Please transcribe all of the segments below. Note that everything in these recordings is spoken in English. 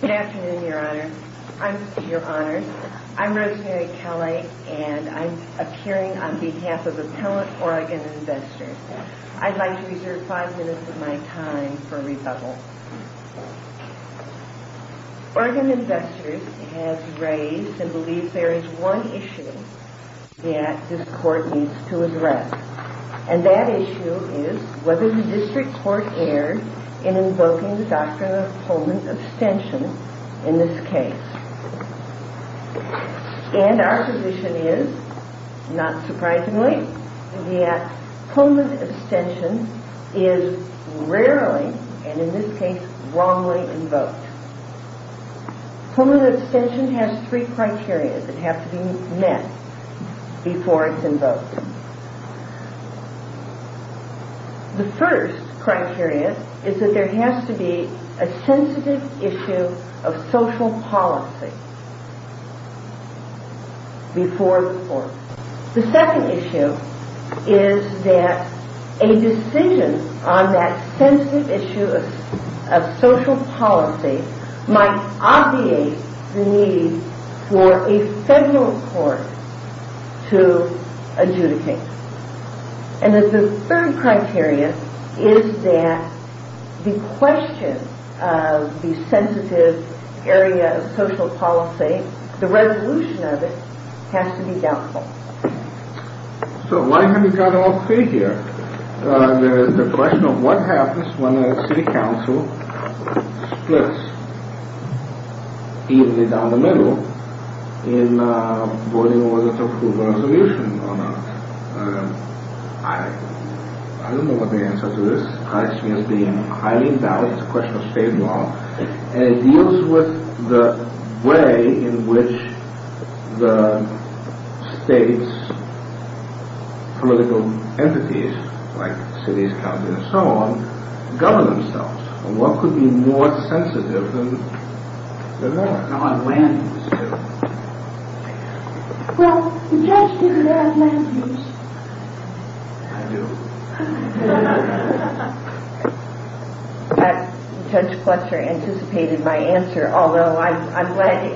Good afternoon, Your Honor. I'm Rosemary Kelley and I'm appearing on behalf of Appellant Oregon Investors. I'd like to reserve five minutes of my time for rebuttal. Oregon Investors has raised and believes there is one issue that this court needs to address. And that issue is whether the district court erred in invoking the doctrine of Pullman abstention in this case. And our position is, not surprisingly, that Pullman abstention is rarely, and in this case, wrongly invoked. Pullman abstention has three criteria that have to be met before it's invoked. The first criteria is that there has to be a sensitive issue of social policy before the court. The second issue is that a decision on that sensitive issue of social policy might obviate the need for a federal court to adjudicate. And the third criteria is that the question of the sensitive area of social policy, the resolution of it, has to be doubtful. So why have you got all three here? The question of what happens when a city council splits evenly down the middle in voting on whether to approve a resolution or not. I don't know what the answer to this question is being highly doubtful. It's a question of state law. And it deals with the way in which the state's political entities, like cities, counties, and so on, govern themselves. And what could be more sensitive than that? On land use, too. Well, the judge didn't ask land use. I do. Judge Clutcher anticipated my answer, although I'm glad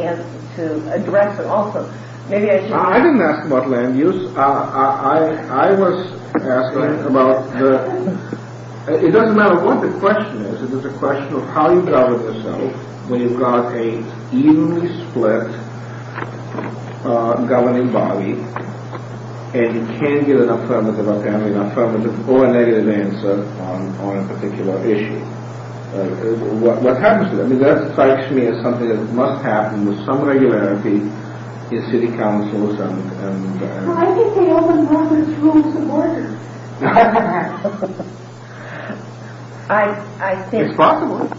to address it also. I didn't ask about land use. I was asking about... It doesn't matter what the question is. It's a question of how you govern yourself when you've got an evenly split governing body and you can't get an affirmative or negative answer on a particular issue. What happens to that? I mean, that strikes me as something that must happen with some regularity if city councils and... Well, I think they open borders and close the borders. It's possible.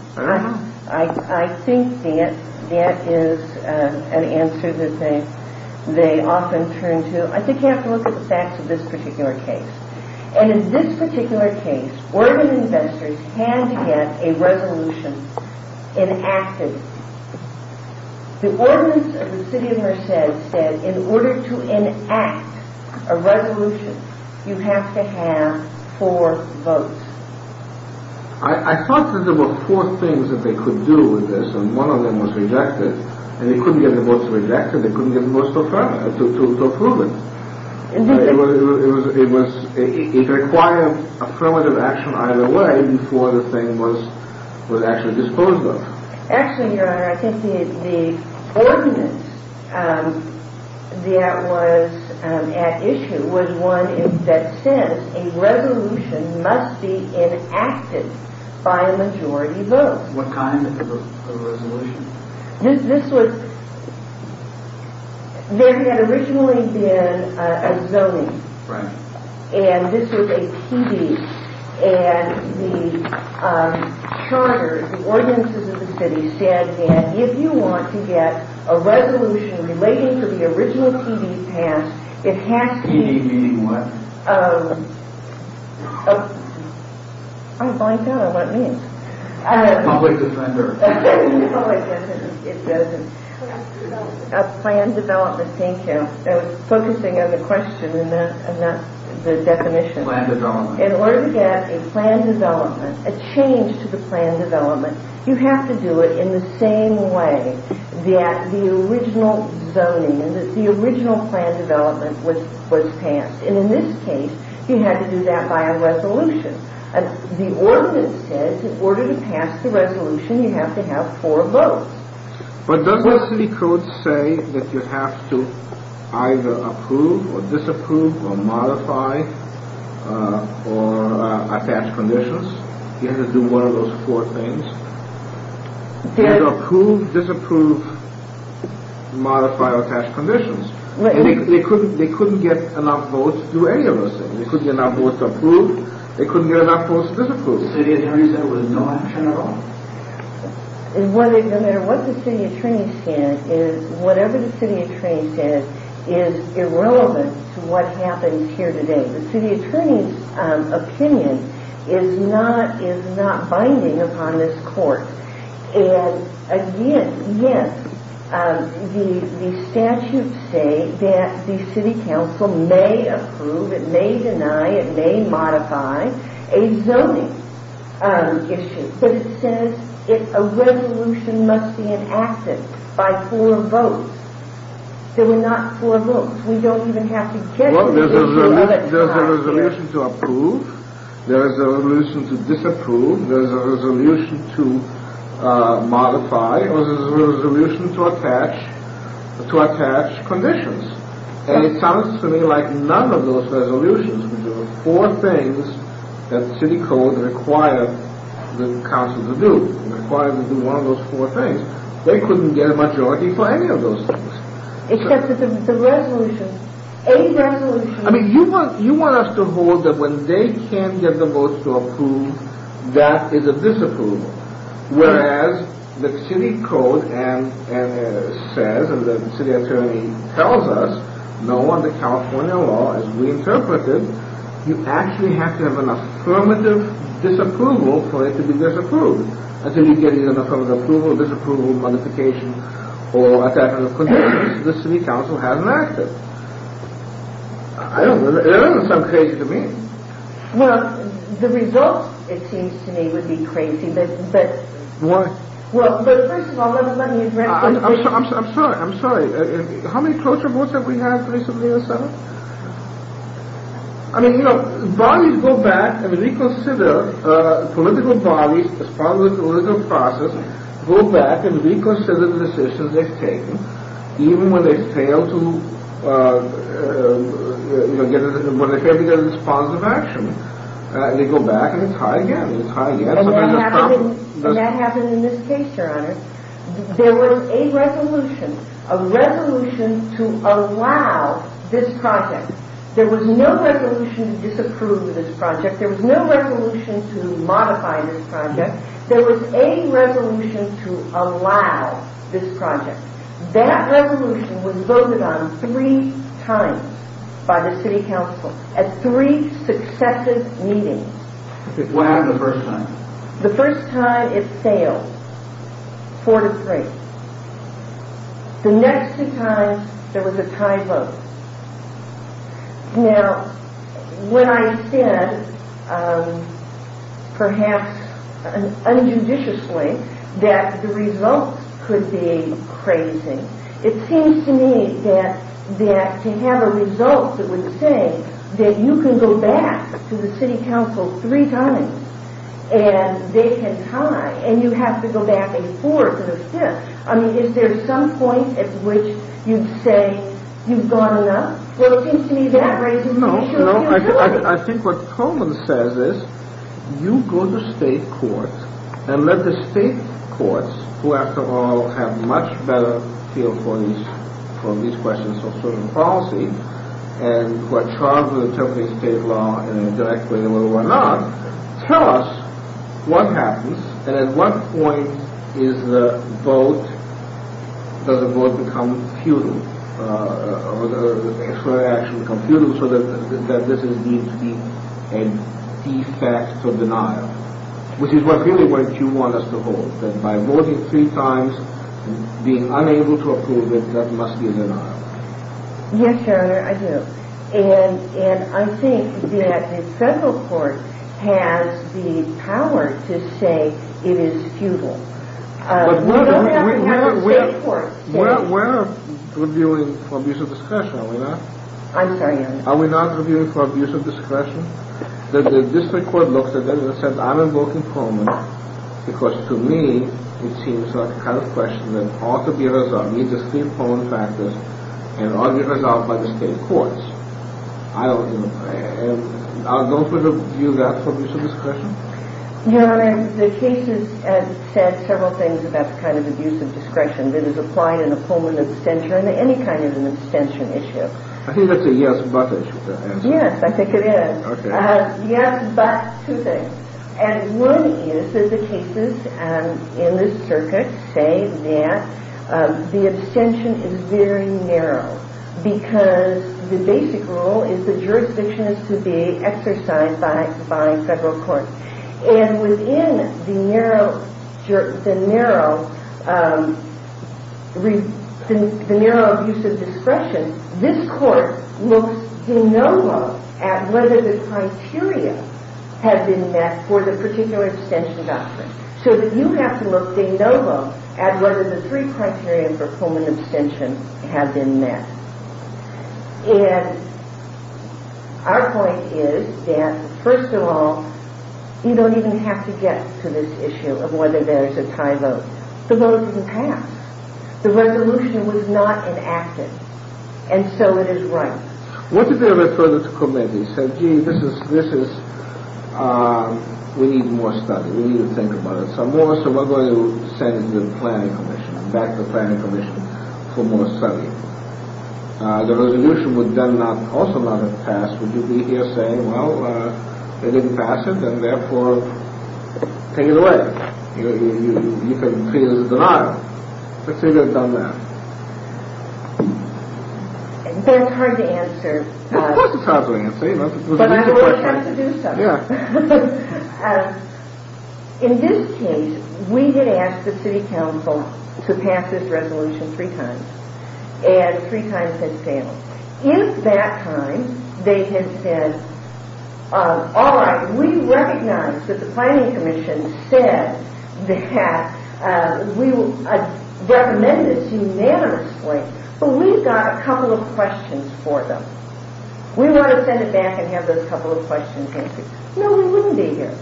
I think that is an answer that they often turn to. I think you have to look at the facts of this particular case. And in this particular case, Oregon investors had to get a resolution enacted. The ordinance of the city of Merced said in order to enact a resolution, you have to have four votes. I thought that there were four things that they could do with this, and one of them was reject it. And they couldn't get the votes rejected. They couldn't get the votes to approve it. It required affirmative action either way before the thing was actually disposed of. Actually, Your Honor, I think the ordinance that was at issue was one that says a resolution must be enacted by a majority vote. What kind of a resolution? There had originally been a zoning. And this was a TD. And the charter, the ordinance of the city said that if you want to get a resolution relating to the original TD passed, it has to be... TD meaning what? I'm blanking out on what it means. Public defender. Oh, I guess it doesn't. Plan development. Plan development, thank you. I was focusing on the question and not the definition. Plan development. In order to get a plan development, a change to the plan development, you have to do it in the same way that the original zoning, the original plan development was passed. And in this case, you had to do that by a resolution. The ordinance says in order to pass the resolution, you have to have four votes. But doesn't the city code say that you have to either approve or disapprove or modify or attach conditions? You have to do one of those four things. And approve, disapprove, modify or attach conditions. And they couldn't get enough votes to do any of those things. They couldn't get enough votes to approve. They couldn't get enough votes to disapprove. The city attorney said there was no action at all. No matter what the city attorney said, whatever the city attorney said is irrelevant to what happened here today. The city attorney's opinion is not binding upon this court. And again, yes, the statutes say that the city council may approve, it may deny, it may modify a zoning issue. But it says a resolution must be enacted by four votes. There were not four votes. We don't even have to get to the issue of it. There's a resolution to approve. There's a resolution to disapprove. There's a resolution to modify. There's a resolution to attach conditions. And it sounds to me like none of those resolutions would do it. Four things that the city code required the council to do. It required them to do one of those four things. They couldn't get a majority for any of those things. Except for the resolution. A resolution. I mean, you want us to hold that when they can get the votes to approve, that is a disapproval. Whereas the city code says, and the city attorney tells us, no, under California law, as we interpreted, you actually have to have an affirmative disapproval for it to be disapproved. Until you get either an affirmative approval, disapproval, modification, or attachment of conditions, the city council hasn't acted. I don't know. It doesn't sound crazy to me. Well, the results, it seems to me, would be crazy. Why? Well, first of all, let me address this. I'm sorry. I'm sorry. How many closer votes have we had recently in the Senate? I mean, you know, bodies go back and reconsider. Political bodies, as part of the political process, go back and reconsider the decisions they've taken, even when they fail to get a response of action. They go back and try again and try again. And that happened in this case, Your Honor. There was a resolution. A resolution to allow this project. There was no resolution to disapprove this project. There was no resolution to modify this project. There was a resolution to allow this project. That resolution was voted on three times by the city council at three successive meetings. What happened the first time? The first time it failed, four to three. The next two times, there was a tie vote. Now, when I said, perhaps unjudiciously, that the results could be crazy, it seems to me that to have a result that would say that you can go back to the city council three times and they had tied, and you have to go back and forth. I mean, is there some point at which you'd say you've gone enough? Well, it seems to me that raises an issue. I think what Coleman says is, you go to state courts, and let the state courts, who, after all, have much better feel for these questions of social policy, and who are charged with interpreting state law in a direct way and what have you, tell us what happens, and at what point does the vote become futile, or the extra action become futile, so that this is deemed to be an effect of denial, which is really what you want us to hold, that by voting three times and being unable to approve it, that must be a denial. Yes, Your Honor, I do. And I think that the federal court has the power to say it is futile. But we're reviewing for abuse of discretion, are we not? I'm sorry, Your Honor. Are we not reviewing for abuse of discretion? The district court looks at that and says, I'm invoking Coleman, because, to me, it seems like the kind of question that ought to be resolved. These are three important factors, and ought to be resolved by the state courts. I'll go for the view that's for abuse of discretion. Your Honor, the case has said several things about the kind of abuse of discretion that is applied in a Coleman abstention or in any kind of an abstention issue. I think that's a yes but issue. Yes, I think it is. Okay. Yes but two things. And one is that the cases in this circuit say that the abstention is very narrow because the basic rule is the jurisdiction is to be exercised by federal courts. And within the narrow abuse of discretion, this court looks de novo at whether the criteria have been met for the particular abstention doctrine. So that you have to look de novo at whether the three criteria for Coleman abstention have been met. And our point is that, first of all, you don't even have to get to this issue of whether there's a tie vote. The vote can pass. The resolution was not enacted. And so it is right. I want to go a bit further to Coleman. He said, gee, this is, we need more study. We need to think about it some more. So we're going to send the planning commission, back the planning commission for more study. The resolution would then also not have passed would you be here saying, well, they didn't pass it and therefore take it away. You could see it as a denial. Let's say they've done that. That's hard to answer. Of course it's hard to answer. But I would have to do something. Yeah. In this case, we did ask the city council to pass this resolution three times. And three times had failed. In that time, they had said, all right, we recognize that the planning commission said that we recommended this unanimously, but we've got a couple of questions for them. We want to send it back and have those couple of questions answered. No, we wouldn't be here.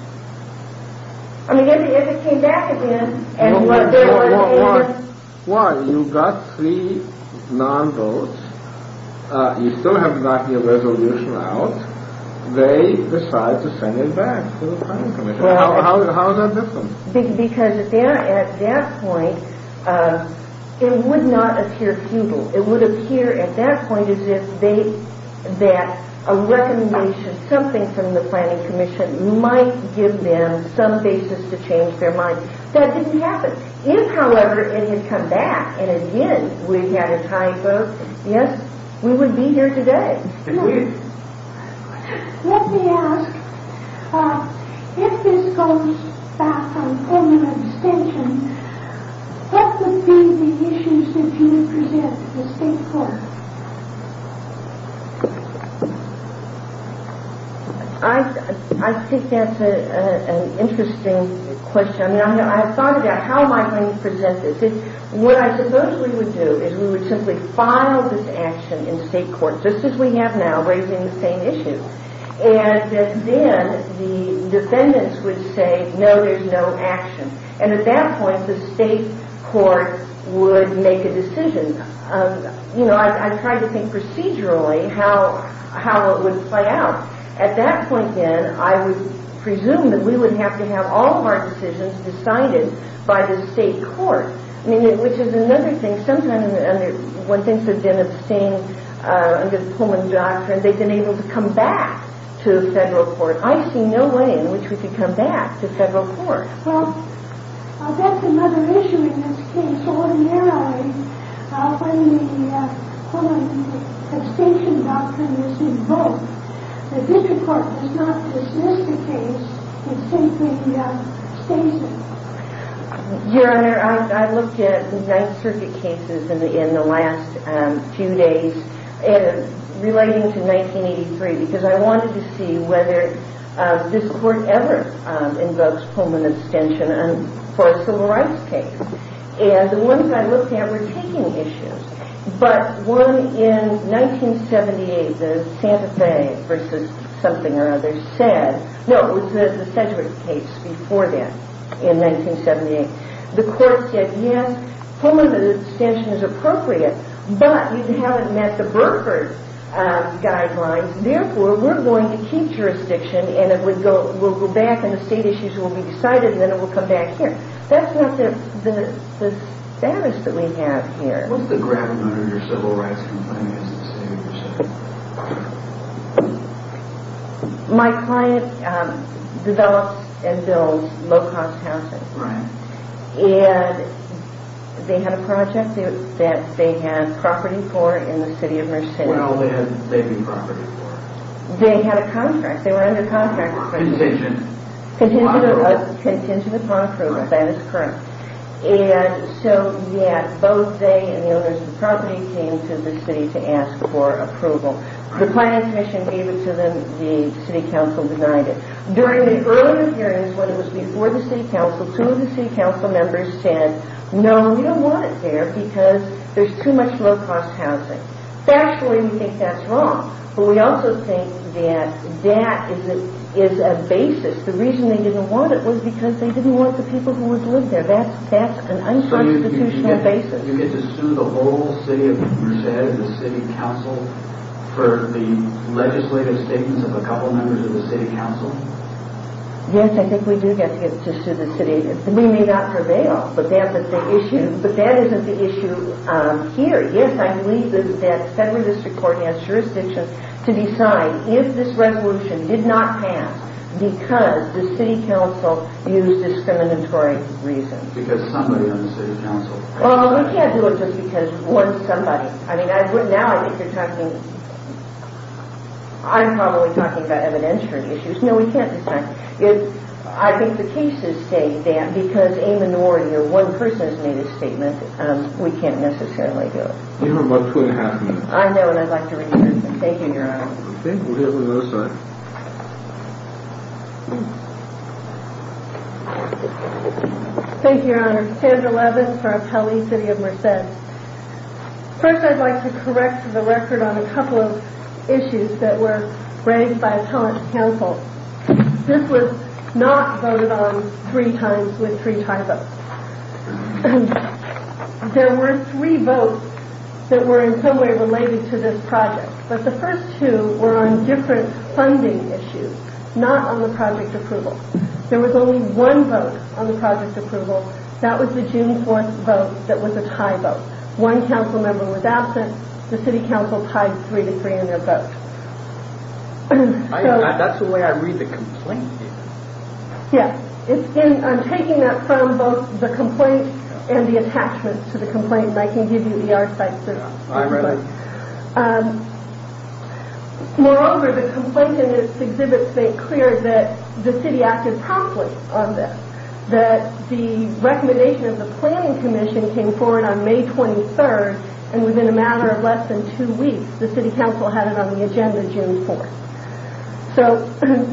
I mean, if it came back again and what they're going to say is. Why? You've got three non-votes. You still have to knock your resolution out. They decide to send it back to the planning commission. How is that different? Because at that point, it would not appear futile. It would appear at that point as if a recommendation, something from the planning commission, might give them some basis to change their mind. That didn't happen. If, however, it did come back and, again, we had a tie vote, yes, we would be here today. Let me ask, if this goes back on permanent extension, what would be the issues that you would present to the state court? I think that's an interesting question. I mean, I've thought about how am I going to present this. What I suppose we would do is we would simply file this action in state court, just as we have now, raising the same issue. And then the defendants would say, no, there's no action. And at that point, the state court would make a decision. You know, I've tried to think procedurally how it would play out. At that point, then, I would presume that we would have to have all of our decisions decided by the state court, which is another thing. Sometimes when things have been abstained under the Pullman Doctrine, they've been able to come back to the federal court. I see no way in which we could come back to federal court. Well, that's another issue in this case. Ordinarily, when the Pullman extension doctrine is invoked, the district court does not dismiss the case. It simply stays it. Your Honor, I've looked at Ninth Circuit cases in the last few days, relating to 1983, because I wanted to see whether this Court ever invokes Pullman extension for a civil rights case. And the ones I looked at were taking issues. But one in 1978, the Sedgwick case before that in 1978, the Court said, yes, Pullman extension is appropriate, but you haven't met the Burkhardt guidelines. Therefore, we're going to keep jurisdiction, and we'll go back, and the state issues will be decided, and then it will come back here. That's not the status that we have here. What's the gravity under your civil rights complainant's decision? My client develops and builds low-cost housing. Right. And they had a project that they had property for in the city of Merced. What all did they have property for? They had a contract. They were under contract. Contingent. Contingent upon approval. That is correct. And so, yes, both they and the owners of the property came to the city to ask for approval. The client's mission gave it to them. The city council denied it. During the earlier hearings, when it was before the city council, two of the city council members said, no, we don't want it there because there's too much low-cost housing. Factually, we think that's wrong, but we also think that that is a basis. The reason they didn't want it was because they didn't want the people who would live there. That's an unconstitutional basis. Do you get to sue the whole city of Merced, the city council, for the legislative statements of a couple of members of the city council? Yes, I think we do get to sue the city. We may not prevail, but that isn't the issue here. Yes, I believe that the federal district court has jurisdiction to decide if this resolution did not pass because the city council used discriminatory reasons. Well, we can't do it just because one somebody. I mean, now I think you're talking, I'm probably talking about evidentiary issues. No, we can't decide. I think the cases state that because a minority or one person has made a statement, we can't necessarily do it. You have about two and a half minutes. I know, and I'd like to read your statement. Thank you, Your Honor. Okay, we'll give it another second. Thank you, Your Honor. Sandra Levin for Appellee City of Merced. First, I'd like to correct the record on a couple of issues that were raised by a talent council. This was not voted on three times with three tie votes. There were three votes that were in some way related to this project, but the first two were on different funding issues. Not on the project approval. There was only one vote on the project approval. That was the June 4th vote that was a tie vote. One council member was absent. The city council tied three to three in their vote. That's the way I read the complaint. Yes. I'm taking that from both the complaint and the attachment to the complaint, and I can give you the archetype for that. All right. Moreover, the complaint in this exhibit states clear that the city acted promptly on this, that the recommendation of the planning commission came forward on May 23rd, and within a matter of less than two weeks, the city council had it on the agenda June 4th. So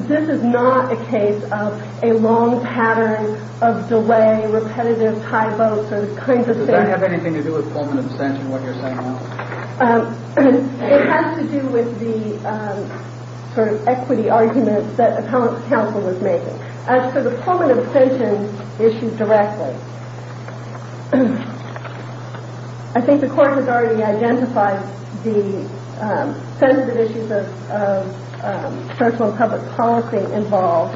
this is not a case of a long pattern of delay, repetitive tie votes, those kinds of things. Does that have anything to do with Pullman abstention, what you're saying now? It has to do with the sort of equity arguments that a council was making. As for the Pullman abstention issue directly, I think the court has already identified the sensitive issues of social and public policy involved.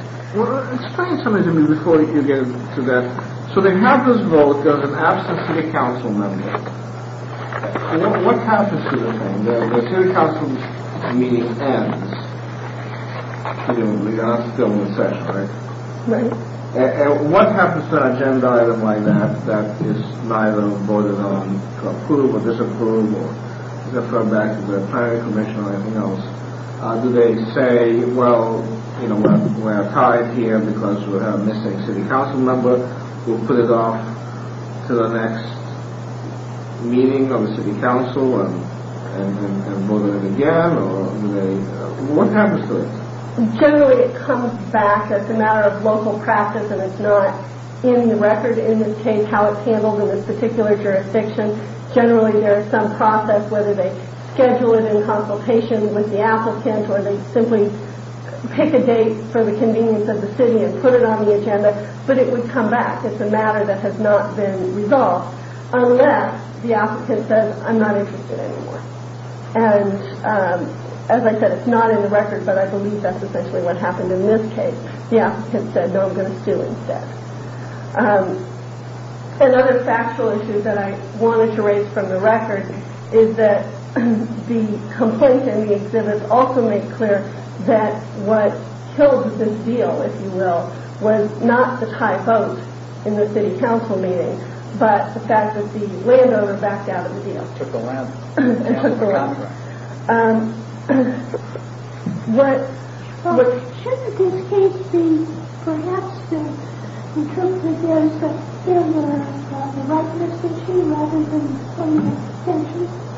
Explain something to me before you get to that. So they have this vote. There's an absent city council member. What happens to the thing? The city council meeting ends. You're going to have to fill in the section, right? Right. And what happens to an agenda item like that that is neither voted on to approve or disapprove or defer back to the planning commission or anything else? Do they say, well, we're tied here because we have a missing city council member. We'll put it off to the next meeting of the city council and vote on it again? What happens to it? Generally, it comes back. It's a matter of local practice and it's not in the record in this case how it's handled in this particular jurisdiction. Generally, there is some process, whether they schedule it in consultation with the applicant or they simply pick a date for the convenience of the city and put it on the agenda, but it would come back. It's a matter that has not been resolved unless the applicant says, I'm not interested anymore. And as I said, it's not in the record, but I believe that's essentially what happened in this case. The applicant said, no, I'm going to sue instead. Another factual issue that I wanted to raise from the record is that the complaint in the exhibit also made clear that what killed this deal, if you will, was not the tie vote in the city council meeting, but the fact that the landowner backed out of the deal. Took the land. Took the land. Shouldn't this case be perhaps the truth that there is a failure on the rightness of claim rather than the claim of extension?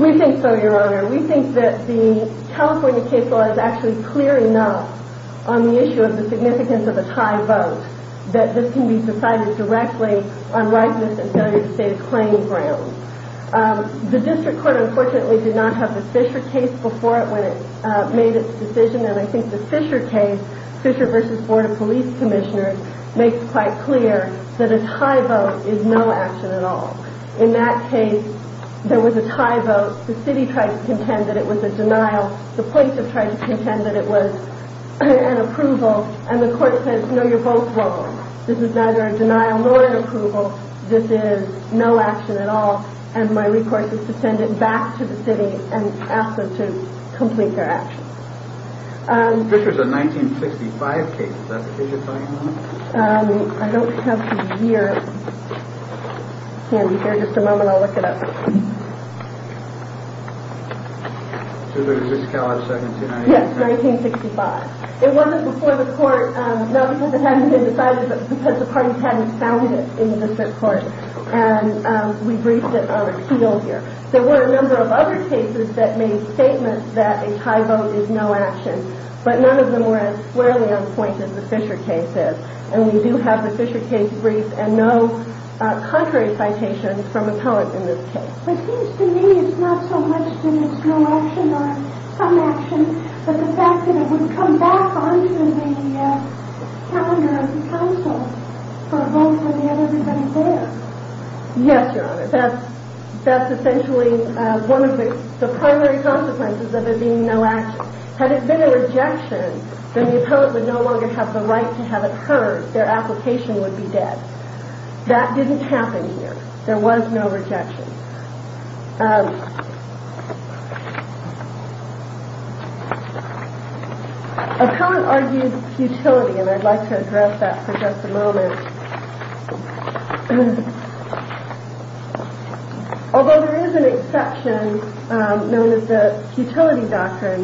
We think so, Your Honor. We think that the California case law is actually clear enough on the issue of the significance of a tie vote that this can be decided directly on rightness and failure to save claim grounds. The district court, unfortunately, did not have the Fisher case before it when it made its decision, and I think the Fisher case, Fisher v. Board of Police Commissioners, makes quite clear that a tie vote is no action at all. In that case, there was a tie vote. The city tried to contend that it was a denial. The plaintiff tried to contend that it was an approval, and the court says, no, you're both wrong. This is neither a denial nor an approval. This is no action at all, and my request is to send it back to the city and ask them to complete their action. The Fisher is a 1965 case. Is that the case you're talking about? I don't have the year handy here. Just a moment. I'll look it up. So there's a discount of 17? Yes, 1965. It wasn't before the court. No, because it hadn't been decided, but because the parties hadn't found it in the district court, and we briefed it on appeal here. There were a number of other cases that made statements that a tie vote is no action, but none of them were as squarely on point as the Fisher case is, and we do have the Fisher case brief and no contrary citations from appellants in this case. It seems to me it's not so much that it's no action or some action, but the fact that it would come back onto the calendar of counsel for a vote would have everybody there. Yes, Your Honor. That's essentially one of the primary consequences of it being no action. Had it been a rejection, then the appellant would no longer have the right to have it heard. Their application would be dead. That didn't happen here. There was no rejection. Appellant argues futility, and I'd like to address that for just a moment. Although there is an exception known as the futility doctrine,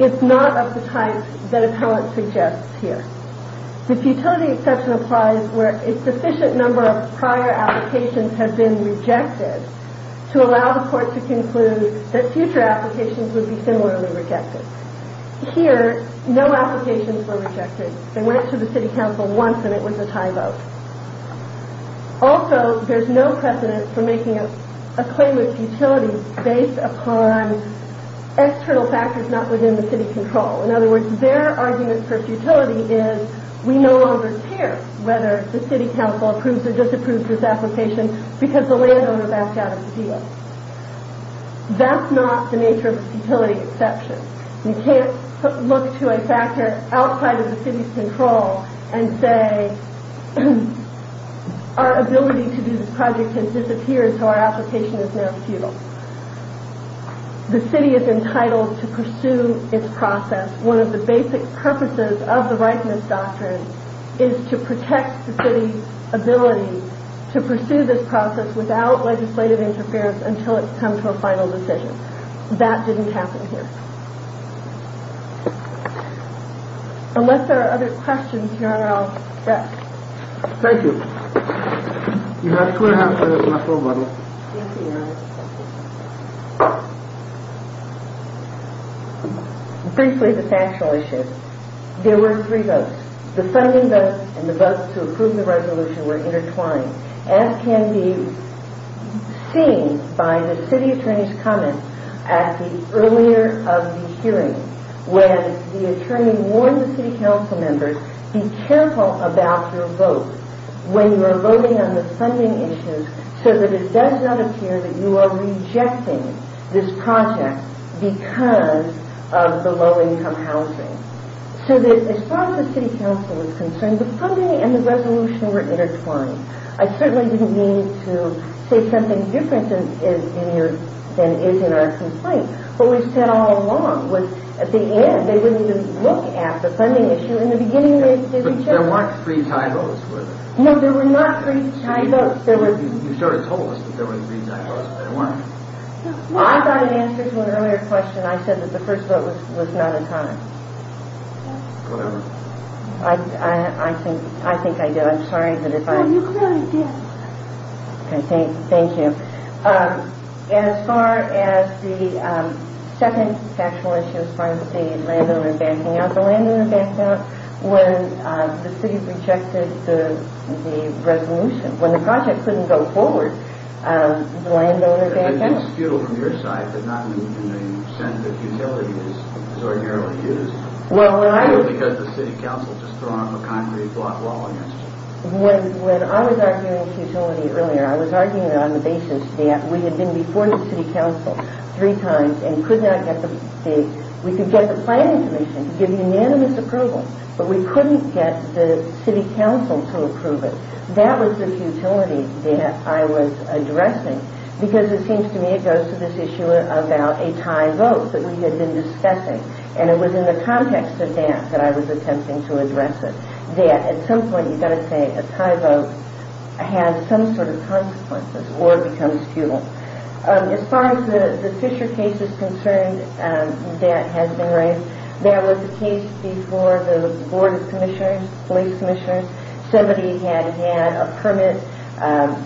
it's not of the type that appellant suggests here. The futility exception applies where a sufficient number of prior applications have been rejected to allow the court to conclude that future applications would be similarly rejected. Here, no applications were rejected. They went to the city council once, and it was a tie vote. Also, there's no precedent for making a claim of futility based upon external factors not within the city control. In other words, their argument for futility is, we no longer care whether the city council approves or disapproves this application because the landowner backed out of the deal. That's not the nature of a futility exception. You can't look to a factor outside of the city's control and say, our ability to do this project has disappeared, so our application is now futile. The city is entitled to pursue its process. One of the basic purposes of the rightness doctrine is to protect the city's ability to pursue this process without legislative interference until it's come to a final decision. That didn't happen here. Unless there are other questions, Your Honor, I'll rest. Thank you. Your Honor, I swear and affirm that this is my full vote. Thank you, Your Honor. Briefly, the factual issue. There were three votes. The funding vote and the vote to approve the resolution were intertwined, as can be seen by the city attorney's comments at the earlier of the hearing when the attorney warned the city council members, be careful about your vote when you are voting on the funding issues so that it does not appear that you are rejecting this project because of the low-income housing. So as far as the city council is concerned, the funding and the resolution were intertwined. I certainly didn't mean to say something different than is in our complaint. What we said all along was at the end, they wouldn't even look at the funding issue. In the beginning, they did check. But there weren't three tie votes, were there? No, there were not three tie votes. You sort of told us that there were three tie votes, but there weren't. I got an answer to an earlier question. I said that the first vote was not a tie. Whatever. I think I did. I'm sorry. No, you clearly did. Thank you. As far as the second factual issue as far as the landowner backing out, the landowner backed out when the city rejected the resolution. When the project couldn't go forward, the landowner backed out. And then this feudal from your side did not move in the sense that futility is ordinarily used. I know because the city council just threw on a concrete block wall against it. When I was arguing futility earlier, I was arguing it on the basis that we had been before the city council three times and could not get the plan information to give unanimous approval. But we couldn't get the city council to approve it. That was the futility that I was addressing because it seems to me it goes to this issue about a tie vote that we had been discussing. And it was in the context of that that I was attempting to address it. That at some point you've got to say a tie vote has some sort of consequences or becomes feudal. As far as the Fisher case is concerned that has been raised, that was the case before the board of commissioners, police commissioners. Somebody had had a permit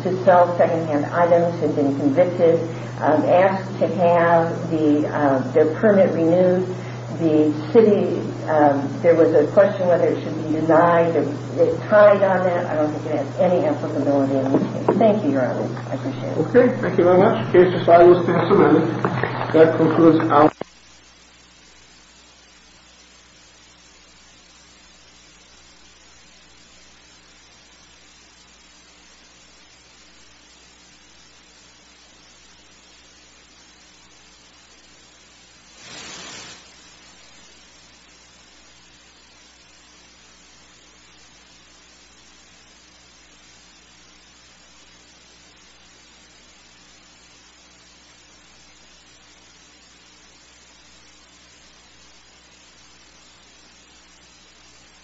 to sell secondhand items, had been convicted, asked to have their permit renewed. There was a question whether it should be denied or tied on that. I don't think it has any applicability in this case. Thank you, Your Honor. I appreciate it. Okay. Thank you very much. The case is filed as passed amended. Thank you.